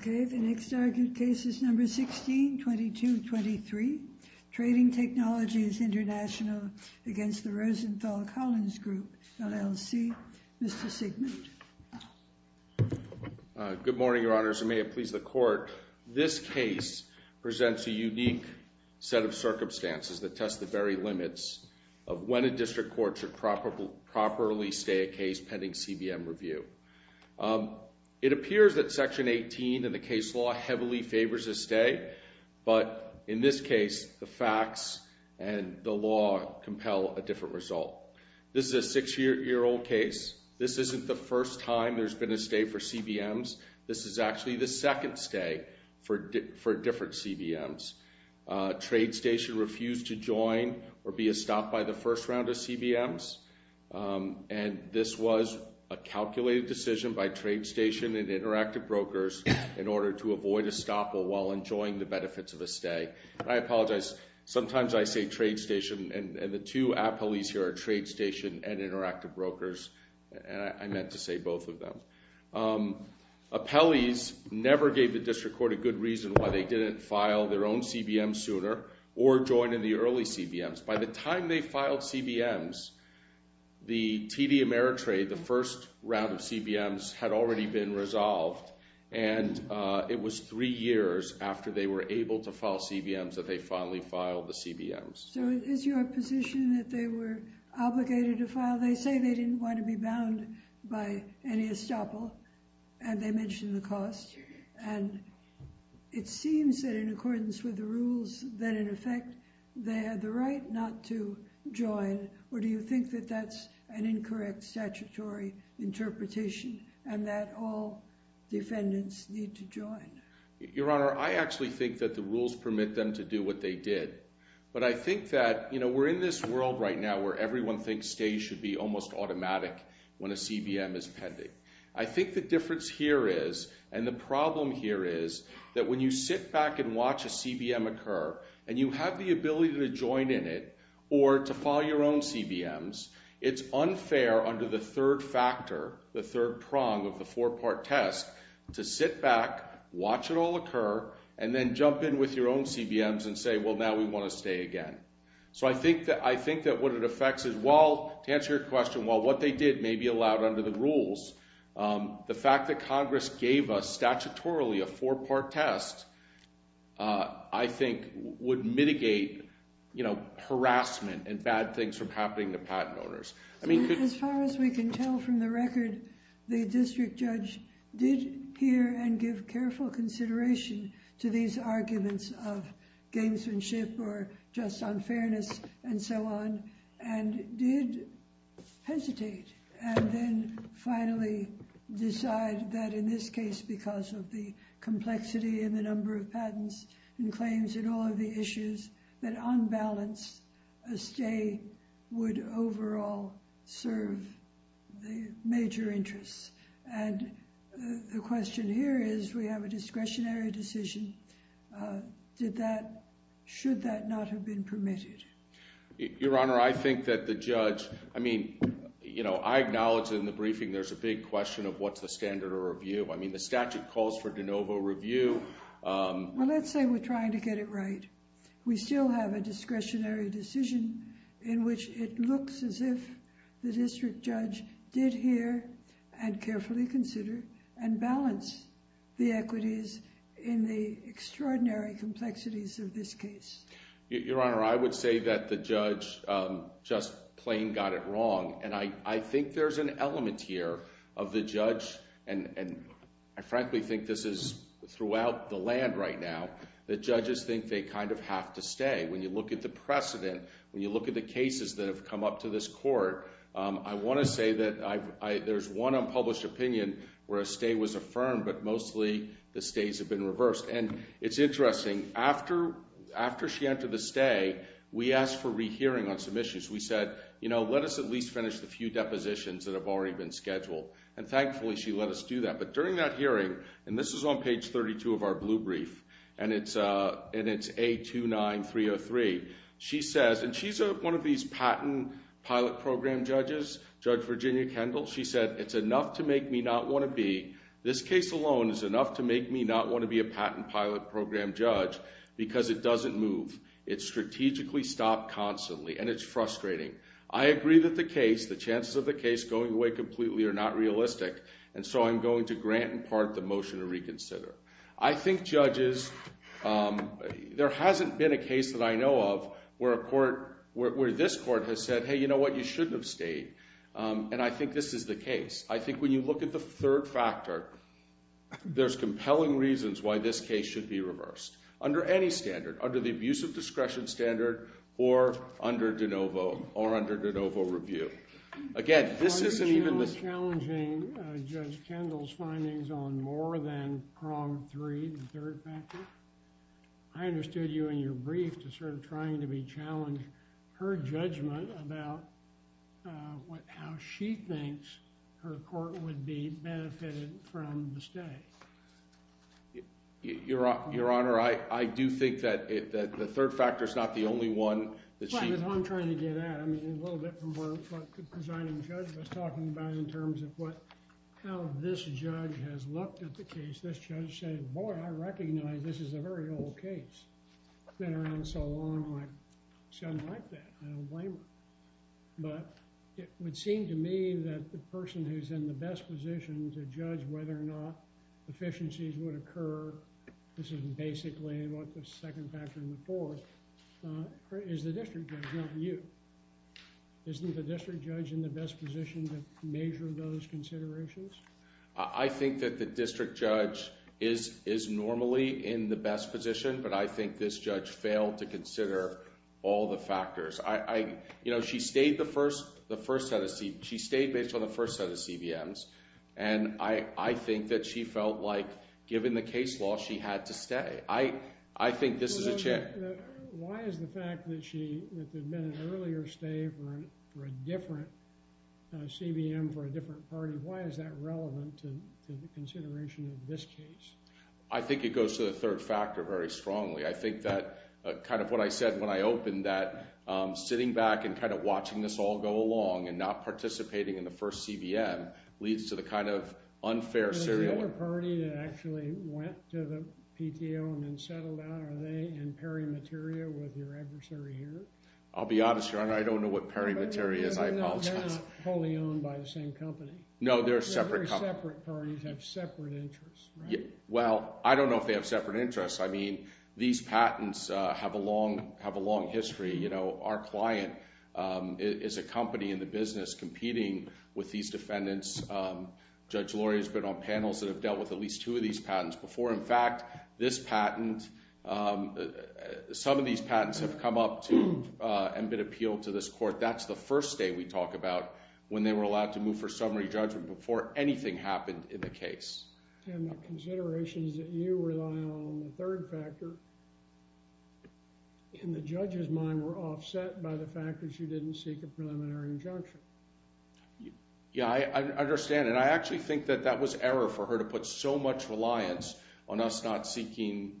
Okay, the next argued case is number 16-22-23, Trading Technologies International against the Rosenthal Collins Group, LLC. Mr. Siegmund. Good morning, Your Honors, and may it please the Court. This case presents a unique set of circumstances that test the very limits of when a district court should properly stay a case pending CBM review. It appears that Section 18 of the case law heavily favors a stay, but in this case, the facts and the different result. This is a six-year-old case. This isn't the first time there's been a stay for CBMs. This is actually the second stay for different CBMs. Trade Station refused to join or be a stop by the first round of CBMs, and this was a calculated decision by Trade Station and Interactive Brokers in order to avoid a stop while enjoying the benefits of a stay. I apologize. Sometimes I say Trade Station, and the two appellees here are Trade Station and Interactive Brokers, and I meant to say both of them. Appellees never gave the district court a good reason why they didn't file their own CBMs sooner or join in the early CBMs. By the time they filed CBMs, the TD Ameritrade, the first round of file CBMs that they finally filed the CBMs. So is your position that they were obligated to file? They say they didn't want to be bound by any estoppel, and they mentioned the cost, and it seems that in accordance with the rules, that in effect, they had the right not to join, or do you think that that's an incorrect statutory interpretation and that all defendants need to permit them to do what they did? But I think that, you know, we're in this world right now where everyone thinks stays should be almost automatic when a CBM is pending. I think the difference here is, and the problem here is, that when you sit back and watch a CBM occur, and you have the ability to join in it, or to file your own CBMs, it's unfair under the third factor, the third prong of the four-part test, to sit back, watch it all occur, and then jump in your own CBMs and say, well, now we want to stay again. So I think that what it affects is, well, to answer your question, well, what they did may be allowed under the rules. The fact that Congress gave us statutorily a four-part test, I think, would mitigate, you know, harassment and bad things from happening to patent owners. I mean, as far as we can tell from the record, the district took considerable consideration to these arguments of gamesmanship, or just unfairness, and so on, and did hesitate, and then finally decide that in this case, because of the complexity and the number of patents and claims, and all of the issues, that on balance, a stay would overall serve the major interests. And the question here is, we have a discretionary decision. Should that not have been permitted? Your Honor, I think that the judge, I mean, you know, I acknowledge in the briefing there's a big question of what's the standard of review. I mean, the statute calls for de novo review. Well, let's say we're trying to get it right. We still have a discretionary decision in which it looks as if the district judge did hear, and carefully consider, and balance the equities in the extraordinary complexities of this case. Your Honor, I would say that the judge just plain got it wrong. And I think there's an element here of the judge, and I frankly think this is throughout the land right now, the judges think they kind of have to stay. When you look at the precedent, when you look at the cases that have come up to this court, I want to say that there's one unpublished opinion where a stay was affirmed, but mostly the stays have been reversed. And it's interesting, after she entered the stay, we asked for rehearing on some issues. We said, you know, let us at least finish the few depositions that have already been scheduled. And thankfully, she let us do that. But during that A29303, she says, and she's one of these patent pilot program judges, Judge Virginia Kendall, she said, it's enough to make me not want to be, this case alone is enough to make me not want to be a patent pilot program judge, because it doesn't move. It's strategically stopped constantly, and it's frustrating. I agree that the case, the chances of the case going away completely are not realistic, and so I'm going to grant in part the motion to reconsider. I think judges, um, there hasn't been a case that I know of where a court, where this court has said, hey, you know what, you shouldn't have stayed. And I think this is the case. I think when you look at the third factor, there's compelling reasons why this case should be reversed, under any standard, under the abusive discretion standard, or under de novo, or under de novo review. Again, this I understood you in your brief to sort of trying to be challenged her judgment about what, how she thinks her court would be benefited from the stay. Your Honor, I do think that the third factor is not the only one that she. Well, that's what I'm trying to get at. I mean, a little bit from what the presiding judge was talking about in terms of what, how this judge has looked at the case. This judge said, boy, I recognize this is a very old case. It's been around so long, my son liked that. I don't blame her. But it would seem to me that the person who's in the best position to judge whether or not efficiencies would occur, this is basically what the second factor would force, is the district judge, not you. Isn't the district judge in the best position to make those considerations? I think that the district judge is normally in the best position, but I think this judge failed to consider all the factors. I, you know, she stayed the first, the first set of, she stayed based on the first set of CVMs, and I think that she felt like, given the case law, she had to stay. I think this is a chance. Why is the fact that she had been an earlier stay for a different CVM for a different party, why is that relevant to the consideration of this case? I think it goes to the third factor very strongly. I think that kind of what I said when I opened that sitting back and kind of watching this all go along and not participating in the first CVM leads to the kind of unfair serial. Is there another party that actually went to the PTO and then settled out? Are they in pairing material with your adversary here? I'll be honest, Your Honor, I don't know what pairing material is, I apologize. They're not wholly owned by the same company. No, they're a separate company. They're very separate parties, have separate interests, right? Well, I don't know if they have separate interests. I mean, these patents have a long, have a long history. You know, our client is a company in the business competing with these defendants. Judge Lori has been on panels that have dealt with at least two of these patents before. In fact, this patent, some of these patents have come up to and been appealed to this court. That's the first day we talk about when they were allowed to move for summary judgment before anything happened in the case. And the considerations that you rely on, the third factor, in the judge's mind were offset by the fact that she didn't seek a preliminary injunction. Yeah, I understand. And I actually think that that was error for her to put so much reliance on us not seeking...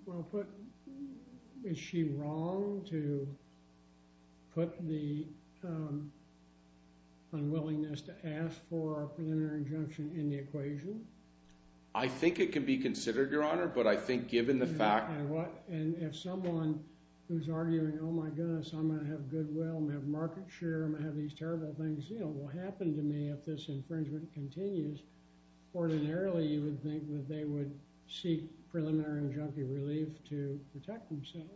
Is she wrong to put the unwillingness to ask for a preliminary injunction in the equation? I think it can be considered, Your Honor, but I think given the fact... And if someone who's arguing, oh my goodness, I'm going to have goodwill, I'm going to have these terrible things, you know, will happen to me if this infringement continues, ordinarily you would think that they would seek preliminary injunctive relief to protect themselves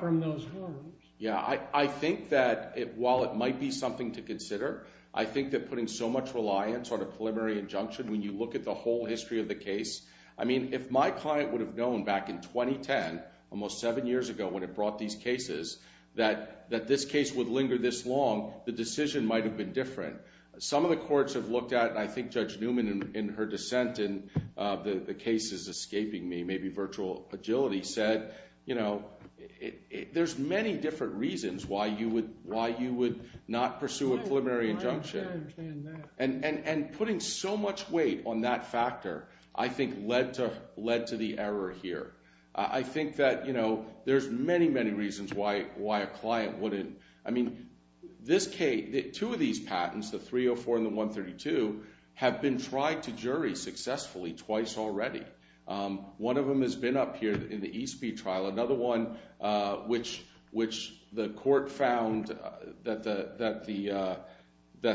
from those harms. Yeah, I think that while it might be something to consider, I think that putting so much reliance on a preliminary injunction, when you look at the whole history of the case, I mean, if my client would have known back in 2010, almost seven years ago, when it brought these cases, that this case would linger this long, the decision might have been different. Some of the courts have looked at, and I think Judge Newman in her dissent in the cases escaping me, maybe virtual agility, said, you know, there's many different reasons why you would not pursue a preliminary injunction. And putting so much weight on that factor, I think led to the error here. I think that, you know, there's many, many reasons why a client wouldn't, I mean, two of these patents, the 304 and the 132, have been tried to jury successfully twice already. One of them has been up here in the Eastby trial, another one which the court found that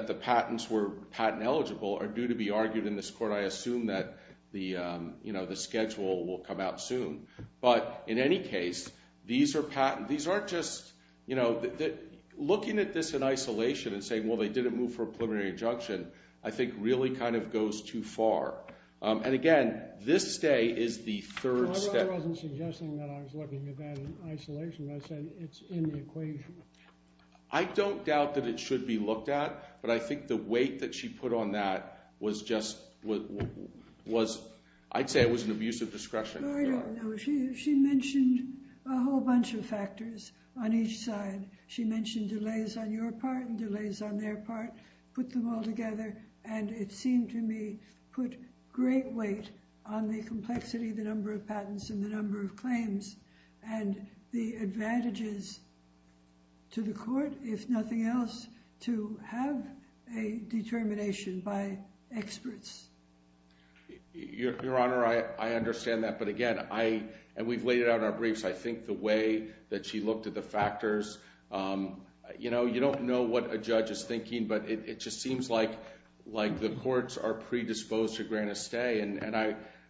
the patents were patent eligible are due to be argued in this court. I assume that the, you know, the schedule will come out soon. But in any case, these are patent, these aren't just, you know, looking at this in isolation and saying, well, they didn't move for a preliminary injunction, I think really kind of goes too far. And again, this stay is the third step. My mother wasn't suggesting that I was looking at that in isolation. I said, it's in the equation. I don't doubt that it should be looked at, but I think the weight that she put on that was just, I'd say it was an abuse of discretion. I don't know. She mentioned a whole bunch of factors on each side. She mentioned delays on your part and delays on their part, put them all together. And it seemed to me, put great weight on the complexity of the number of patents and the number of claims and the advantages to the court, if nothing else, to have a determination by experts. Your Honor, I understand that. But again, I, and we've laid it out in our briefs. I think the way that she looked at the factors, you know, you don't know what a judge is thinking, but it just seems like the courts are predisposed to grant a stay. And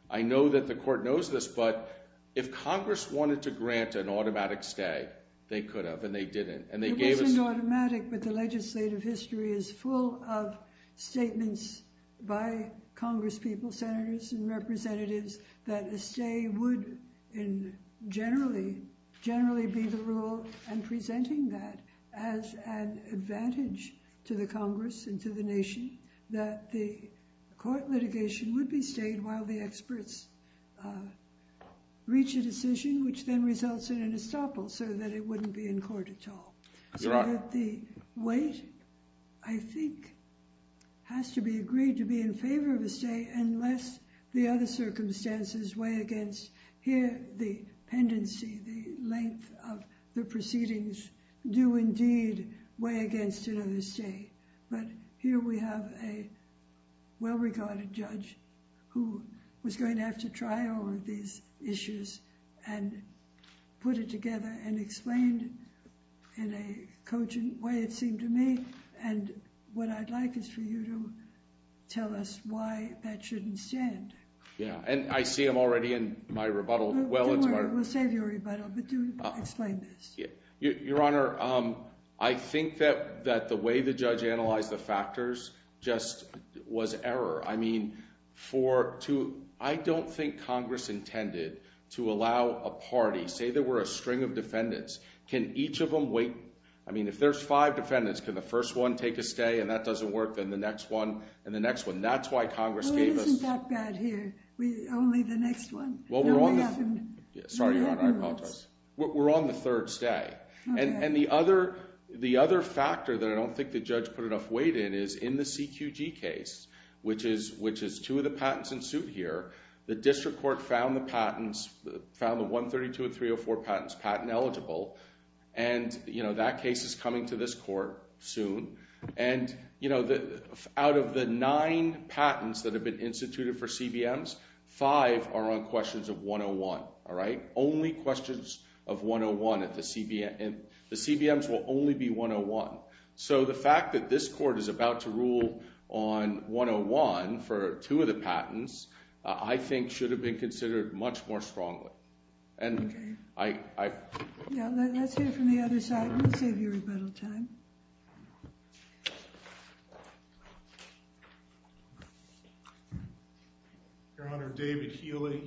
I know that the court knows this, but if Congress wanted to grant an automatic stay, they could have, and they didn't. It wasn't automatic, but the legislative history is full of statements by Congress people, senators and representatives, that a stay would generally be the rule and presenting that as an advantage to the Congress and to the nation, that the court litigation would be stayed while the experts reach a decision, which then results in an estoppel so that it wouldn't be in court at all. So that the weight, I think, has to be agreed to be in favor of a stay unless the other circumstances weigh against. Here, the pendency, the length of the proceedings do indeed weigh against another stay, but here we have a well-regarded judge who was going to have to try over these issues and put it together and explained in a cogent way, it seemed to me, and what I'd like is for you to tell us why that shouldn't stand. Yeah, and I see them already in my rebuttal. Well, we'll save your rebuttal, but do explain this. Your Honor, I think that the way the judge analyzed the factors just was error. I mean, for two, I don't think Congress intended to allow a party, say there were a string of defendants, can each of them wait? I mean, if there's five defendants, can the first one take a stay and that doesn't work, then the next one and the next one. That's why Congress gave us... Well, it isn't that bad here. Only the next one. Sorry, Your Honor, I apologize. We're on the third stay, and the other factor that I don't think the judge put enough weight in is in the CQG case, which is two of the patents in suit here, the district court found the patents, found the 132 and 304 patents patent eligible, and that case is coming to this court soon. And, you know, out of the nine patents that have been instituted for CBMs, five are on questions of 101, all right? Only questions of 101 at the CBMs. The CBMs will only be 101. So the fact that this court is about to rule on 101 for two of the patents, I think should have been considered much more strongly, and I... Yeah, let's hear from the other side. We'll save you rebuttal time. Your Honor, David Healy.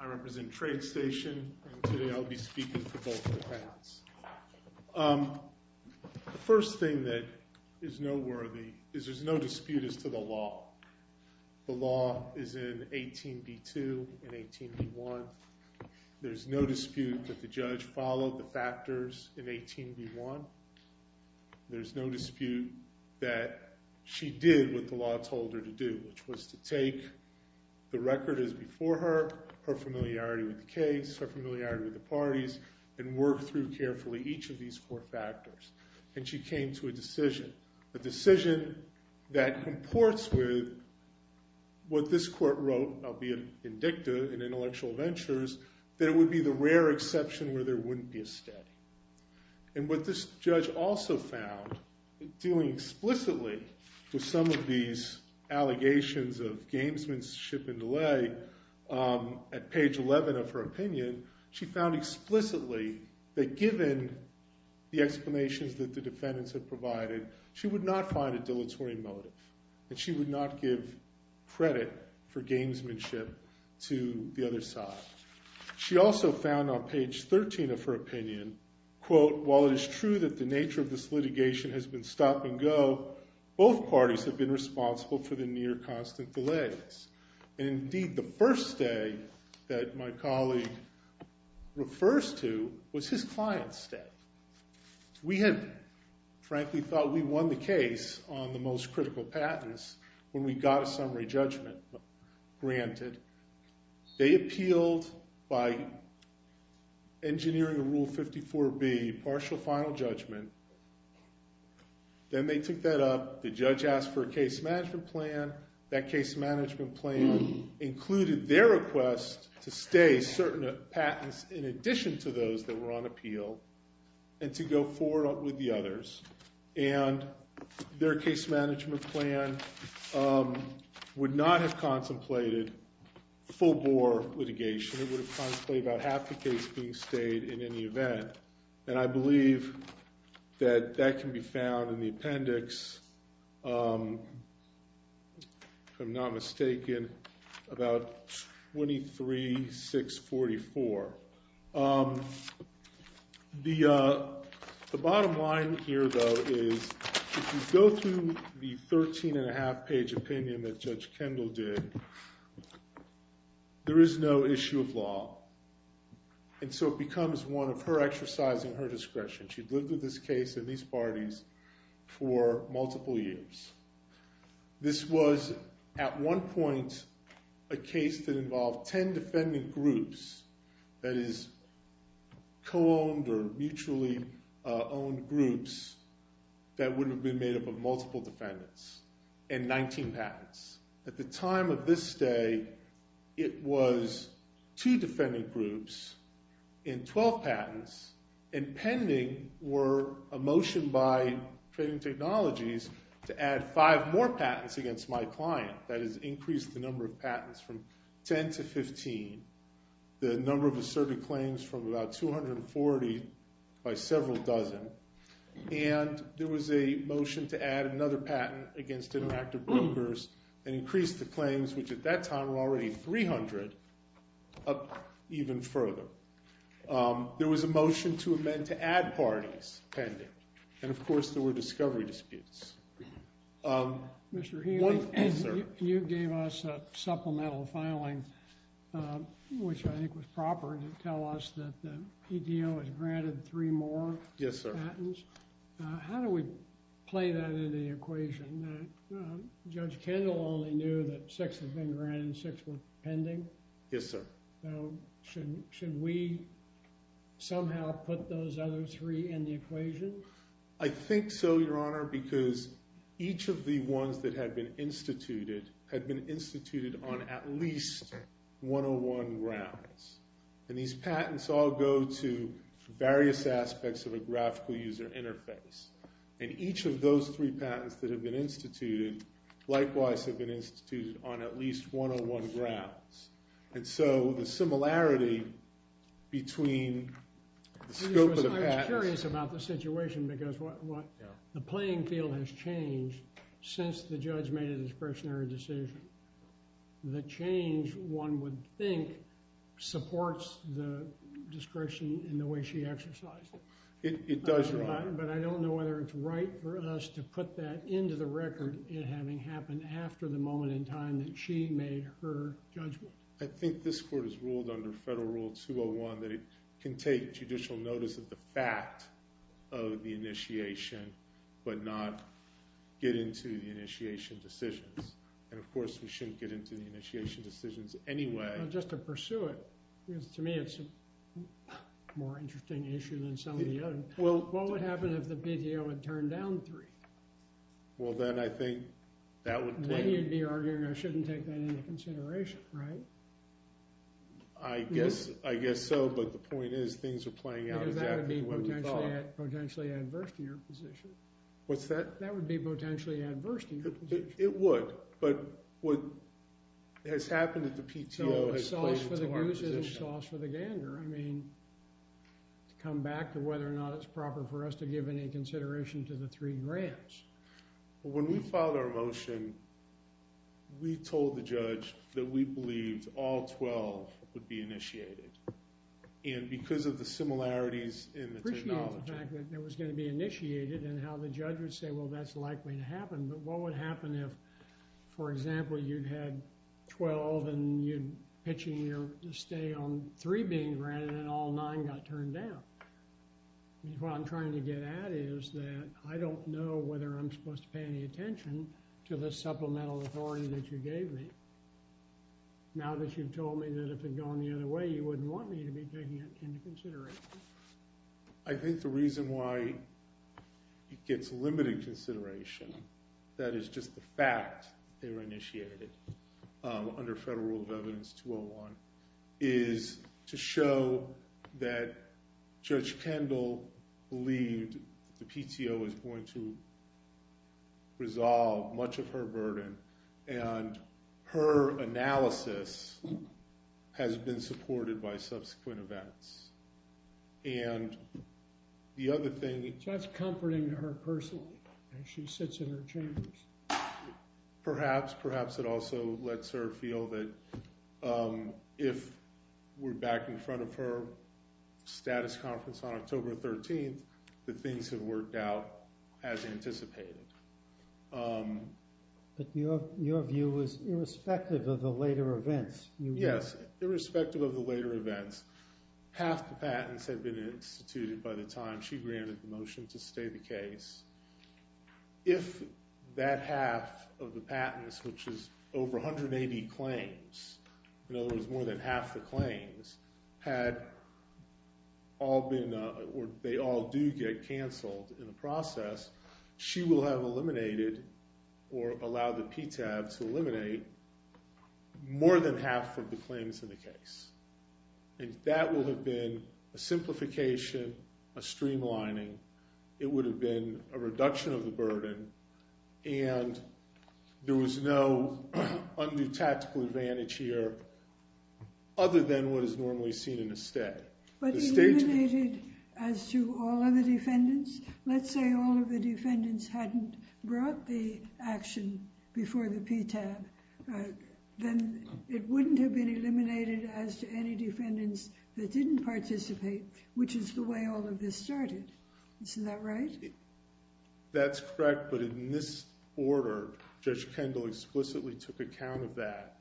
I represent Trade Station, and today I'll be speaking for both of the patents. The first thing that is noteworthy is there's no dispute as to the law. The law is in 18b2 and 18b1. There's no dispute that the judge followed the factors in 18b1. There's no dispute that she did what the law told her to do, which was to take the record as before her, her familiarity with the case, her familiarity with the parties, and work through carefully each of these four factors. And she came to a decision, a decision that comports with what this court wrote, albeit in dicta in intellectual ventures, that it would be the rare exception where there wouldn't be a study. And what this judge also found, dealing explicitly with some of these allegations of gamesmanship and delay, at page 11 of her opinion, she found explicitly that given the explanations that the motive, that she would not give credit for gamesmanship to the other side. She also found on page 13 of her opinion, quote, while it is true that the nature of this litigation has been stop and go, both parties have been responsible for the near constant delays. And indeed, the first stay that my colleague refers to was his client's stay. We had frankly thought we won the on the most critical patents when we got a summary judgment granted. They appealed by engineering a rule 54B, partial final judgment. Then they took that up. The judge asked for a case management plan. That case management plan included their request to stay certain patents in addition to those that were on appeal and to go forward with the others. And their case management plan would not have contemplated full-bore litigation. It would have contemplated about half the case being stayed in any event. And I believe that that can be found in the appendix, if I'm not mistaken, about 23-644. The bottom line here, though, is if you go through the 13 and a half page opinion that Judge Kendall did, there is no issue of law. And so it becomes one of her exercising her discretion. She'd lived with this case and these parties for multiple years. This was, at one point, a case that involved 10 defending groups, that is, co-owned or mutually owned groups that would have been made up of multiple defendants and 19 patents. At the time of this stay, it was two defending groups and 12 patents. And pending were a motion by Trading Technologies to add five more patents against my client. That is, increase the number of patents from 10 to 15, the number of asserted claims from about 240 by several dozen. And there was a motion to add another patent against Interactive Brokers and increase the claims, which at that time were already 300, up even further. There was a motion to amend to add parties pending. And of course, there were discovery disputes. Mr. Healy, you gave us a supplemental filing, which I think was proper to tell us that EDO has granted three more patents. Yes, sir. How do we play that into the equation? Judge Kendall only knew that six had been granted, six were pending. Yes, sir. So should we somehow put those other three in the equation? I think so, Your Honor, because each of the ones that had been instituted had been instituted on at least 101 grounds. And these patents all go to various aspects of a graphical user interface. And each of those three patents that have been instituted likewise have been instituted on at least 101 grounds. And so the similarity between the scope of the patents... I'm curious about the situation because the playing field has changed since the judge made a discretionary decision. The change, one would think, supports the discretion in the way she exercised it. It does, Your Honor. But I don't know whether it's right for us to put that into the record, having happened after the moment in time that she made her judgment. I think this court has but not get into the initiation decisions. And, of course, we shouldn't get into the initiation decisions anyway. Well, just to pursue it, because to me it's a more interesting issue than some of the other. Well, what would happen if the PDO had turned down three? Well, then I think that would... Then you'd be arguing I shouldn't take that into consideration, right? I guess so, but the point is things are playing out exactly the way potentially adverse to your position. What's that? That would be potentially adverse to your position. It would, but what has happened at the PTO has played into our position. It's sauce for the goose. It's sauce for the gander. I mean, to come back to whether or not it's proper for us to give any consideration to the three grants. When we filed our motion, we told the judge that we believed all 12 would be initiated. And because of the similarities in the technology... Appreciate the fact that it was going to be initiated and how the judge would say, well, that's likely to happen. But what would happen if, for example, you had 12 and you're pitching your stay on three being granted and all nine got turned down? What I'm trying to get at is that I don't know whether I'm supposed to pay any attention to the supplemental authority that you gave me now that you've told me that if it had gone the other way, you wouldn't want me to be taking it into consideration. I think the reason why it gets limited consideration, that is just the fact they were initiated under Federal Rule of Evidence 201, is to show that her analysis has been supported by subsequent events. And the other thing... So that's comforting to her personally as she sits in her chambers. Perhaps. Perhaps it also lets her feel that if we're back in front of her status conference on October 13th, the things have worked out as anticipated. But your view is irrespective of the later events. Yes, irrespective of the later events, half the patents had been instituted by the time she granted the motion to stay the case. If that half of the patents, which is over 180 claims, in other words, more than half the claims, had all been or they all do get canceled in the process, she will have eliminated or allowed the PTAB to eliminate more than half of the claims in the case. And that will have been a simplification, a streamlining. It would have been a reduction of the burden and there was no undue tactical advantage here other than what is normally seen in a stay. But eliminated as to all of the defendants? Let's say all of the defendants hadn't brought the action before the PTAB, then it wouldn't have been eliminated as to any defendants that didn't participate, which is the way all of this started. Isn't that right? That's correct. But in this order, Judge Kendall explicitly took account of that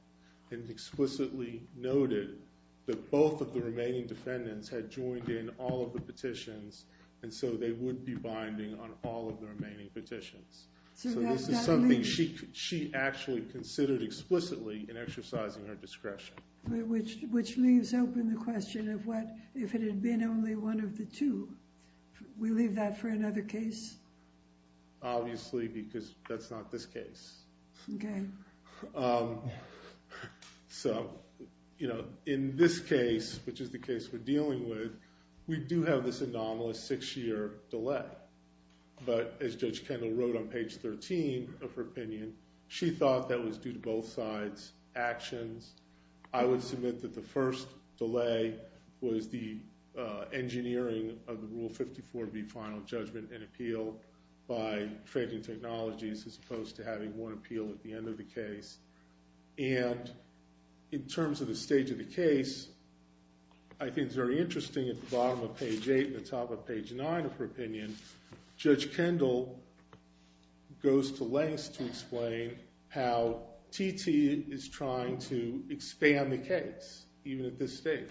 and explicitly noted that both of the remaining defendants had joined in all of the petitions and so they would be binding on all of the remaining petitions. So this is something she actually considered explicitly in exercising her discretion. Which leaves open the question if it had been only one of the two, we leave that for another case? Obviously, because that's not this case. Okay. So, you know, in this case, which is the case we're dealing with, we do have this anomalous six-year delay. But as Judge Kendall wrote on page 13 of her opinion, she thought that was due to both sides' actions. I would submit that the first delay was the engineering of the Rule 54B final judgment and appeal by trading technologies as opposed to having one appeal at the end of the case. And in terms of the stage of the case, I think it's very interesting at the bottom of page 9 of her opinion, Judge Kendall goes to lengths to explain how TT is trying to expand the case, even at this stage.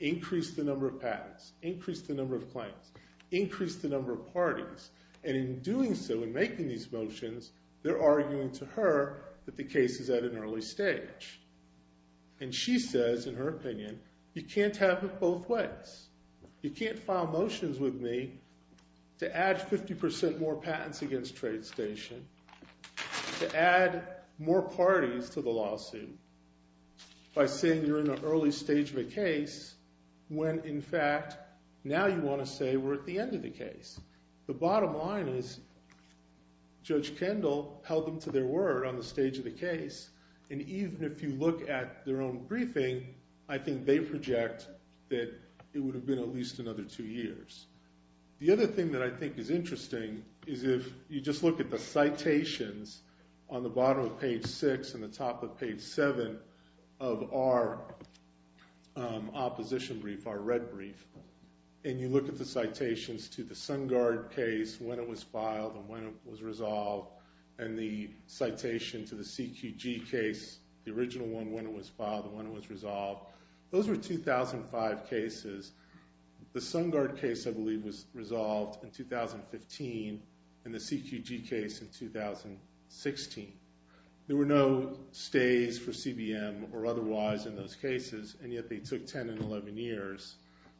Increase the number of patents. Increase the number of claims. Increase the number of parties. And in doing so, in making these motions, they're arguing to her that the case is at an early stage. And she says, in her opinion, you can't have it both ways. You can't file motions with me to add 50% more patents against TradeStation, to add more parties to the lawsuit by saying you're in an early stage of a case when, in fact, now you want to say we're at the end of the case. The bottom line is Judge Kendall held them to their word on the stage of the case. And even if you look at their own briefing, I think they project that it would have been at least another two years. The other thing that I think is interesting is if you just look at the citations on the bottom of page 6 and the top of page 7 of our opposition brief, our red brief, and you look at the citations to the Sungard case, when it was filed and when it was resolved, and the citation to the CQG case, the original one, when it was filed and when it was resolved, those were 2005 cases. The Sungard case, I believe, was resolved in 2015 and the CQG case in 2016. There were no stays for CBM or otherwise in those cases, and yet they took 10 and 11 years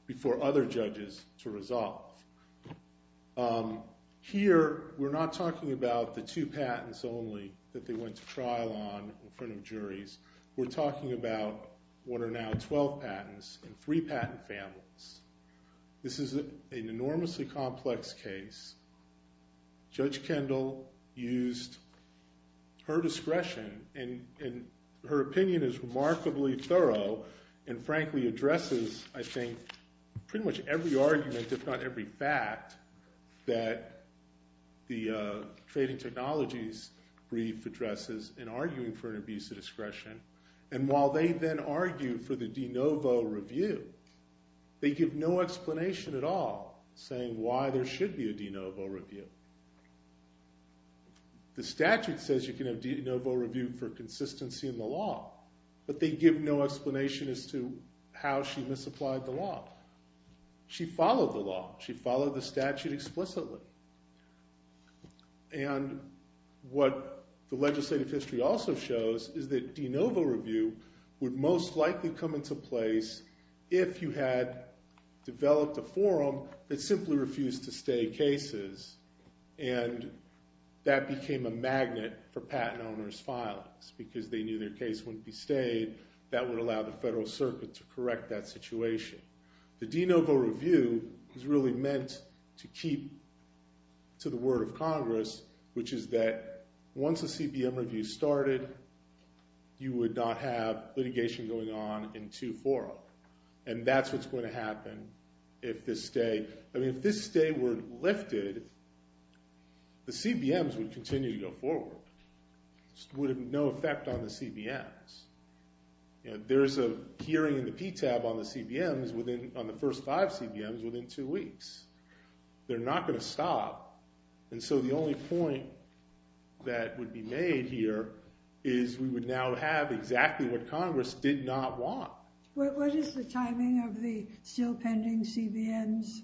before other judges to resolve. Here, we're not talking about the two patents only that they went to trial on in front of juries. We're talking about what are now 12 patents and three patent families. This is an enormously complex case. Judge Kendall used her discretion, and her opinion is remarkably thorough and frankly addresses, I think, pretty much every argument, if not every fact, that the Trading Technologies brief addresses in arguing for an abuse of discretion, and while they then argue for the de novo review, they give no explanation at all saying why there should be a de novo review. The statute says you can have de novo review for consistency in the law, but they give no explanation as to how she misapplied the law. She followed the law. And what the legislative history also shows is that de novo review would most likely come into place if you had developed a forum that simply refused to stay cases, and that became a magnet for patent owners' filings because they knew their case wouldn't be stayed. That would allow the Federal Circuit to correct that situation. The de novo review is really meant to keep to the word of Congress, which is that once a CBM review started, you would not have litigation going on in two forum, and that's what's going to happen if this stay, I mean, if this stay were lifted, the CBMs would continue to go forward. Would have no effect on the CBMs. There's a hearing in the PTAB on the CBMs within, on the first five CBMs within two weeks. They're not going to stop. And so the only point that would be made here is we would now have exactly what Congress did not want. What is the timing of the still pending CBMs?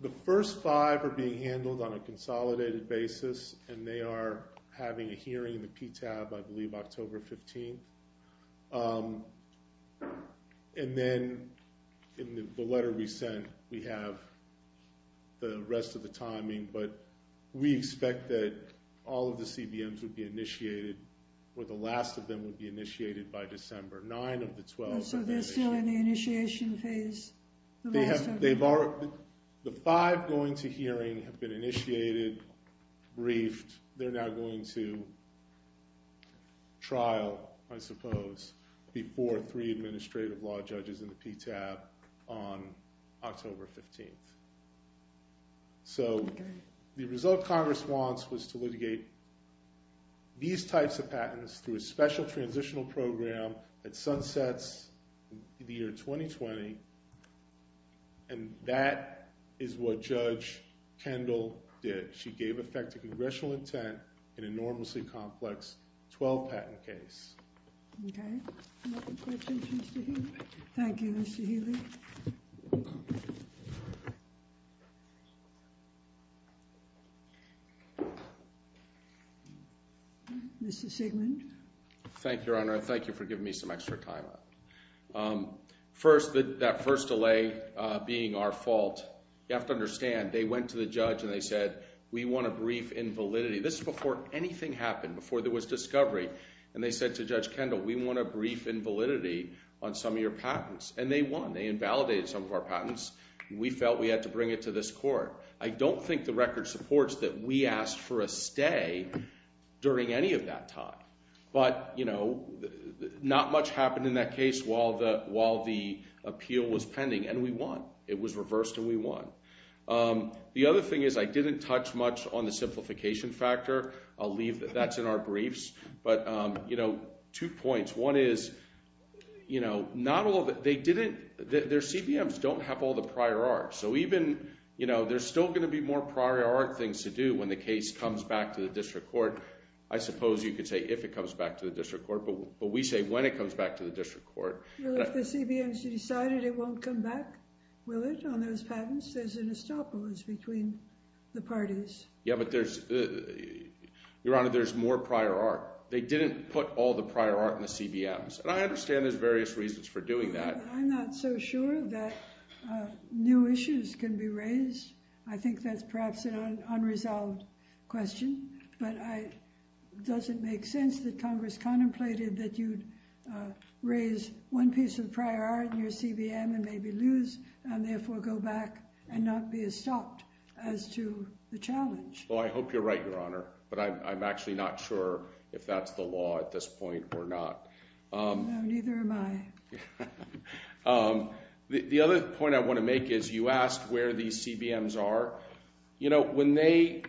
The first five are being handled on a consolidated basis, and they are having a hearing in the PTAB, I believe, October 15th. And then in the letter we sent, we have the rest of the timing, but we expect that all of the CBMs would be initiated, or the last of them would be initiated by December 9th of the 12th. So they're still in the initiation phase? They have, the five going to hearing have been initiated, briefed, they're now going to trial, I suppose, before three administrative law judges in the PTAB on October 15th. So the result Congress wants was to litigate these types of patents through a special transitional program that sunsets in the year 2020, and that is what Judge Kendall did. She gave effect to congressional intent in an enormously complex 12-patent case. Okay. Any other questions, Mr. Healy? Thank you, Mr. Healy. Thank you, Your Honor. Thank you for giving me some extra time. First, that first delay being our fault, you have to understand, they went to the judge and they said, we want a brief invalidity. This is before anything happened, before there was discovery. And they said to Judge Kendall, we want a brief invalidity on some of your patents. And they won. They invalidated some of our patents. We felt we had to bring it to this court. I don't think the record supports that we asked for a stay during any of that time. But, you know, not much happened in that case while the appeal was pending, and we won. It was reversed and we won. The other thing is, I didn't touch much on the simplification factor. I'll leave that. That's in our briefs. But, you know, two points. One is, you know, not all of it, they didn't, their CBMs don't have all the prior art. So even, you know, there's still going to be more prior art things to do when the case comes back to the district court. I suppose you could say if it comes back to the district court, but we say when it comes back to the district court. Well, if the CBMs decided it won't come back, will it on those patents? There's an estopolis between the parties. Yeah, but there's, Your Honor, there's more prior art. They didn't put all the prior art in the CBMs, and I understand there's various reasons for doing that. I'm not so sure that new issues can be raised. I think that's perhaps an unresolved question, but it doesn't make sense that Congress contemplated that you'd raise one piece of prior art in your CBM and maybe lose, and therefore go back and not be as stopped as to the challenge. Well, I hope you're right, Your Honor, but I'm actually not sure if that's the law at this point or not. No, neither am I. The other point I want to make is you asked where these CBMs are. You know, when they,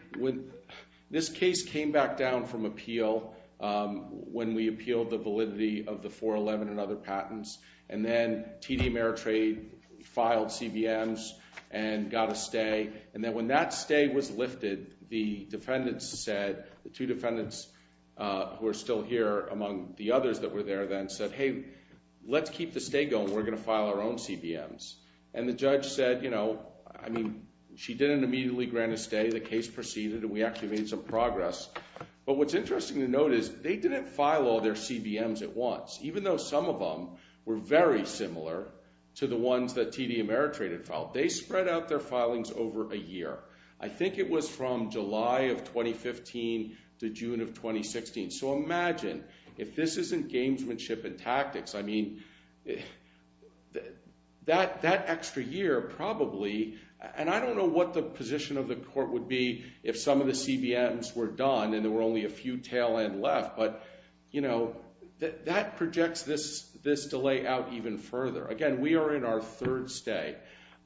this case came back down from appeal when we appealed the validity of the 411 and other CBMs and got a stay, and then when that stay was lifted, the defendants said, the two defendants who are still here among the others that were there then said, hey, let's keep the stay going. We're going to file our own CBMs, and the judge said, you know, I mean, she didn't immediately grant a stay. The case proceeded, and we actually made some progress, but what's interesting to note is they didn't file all their CBMs at once, even though some of them were very similar to the Ameritrade that filed. They spread out their filings over a year. I think it was from July of 2015 to June of 2016, so imagine if this isn't gamesmanship and tactics. I mean, that extra year probably, and I don't know what the position of the court would be if some of the CBMs were done and there were only a few tail end left, but, you know, that projects this delay out even further. Again, we are in our third stay.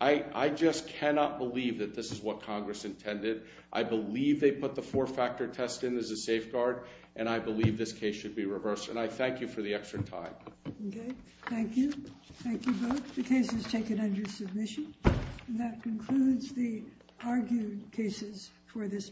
I just cannot believe that this is what Congress intended. I believe they put the four-factor test in as a safeguard, and I believe this case should be reversed, and I thank you for the extra time. Okay, thank you. Thank you both. The case is taken under submission, and that concludes the cases for this morning.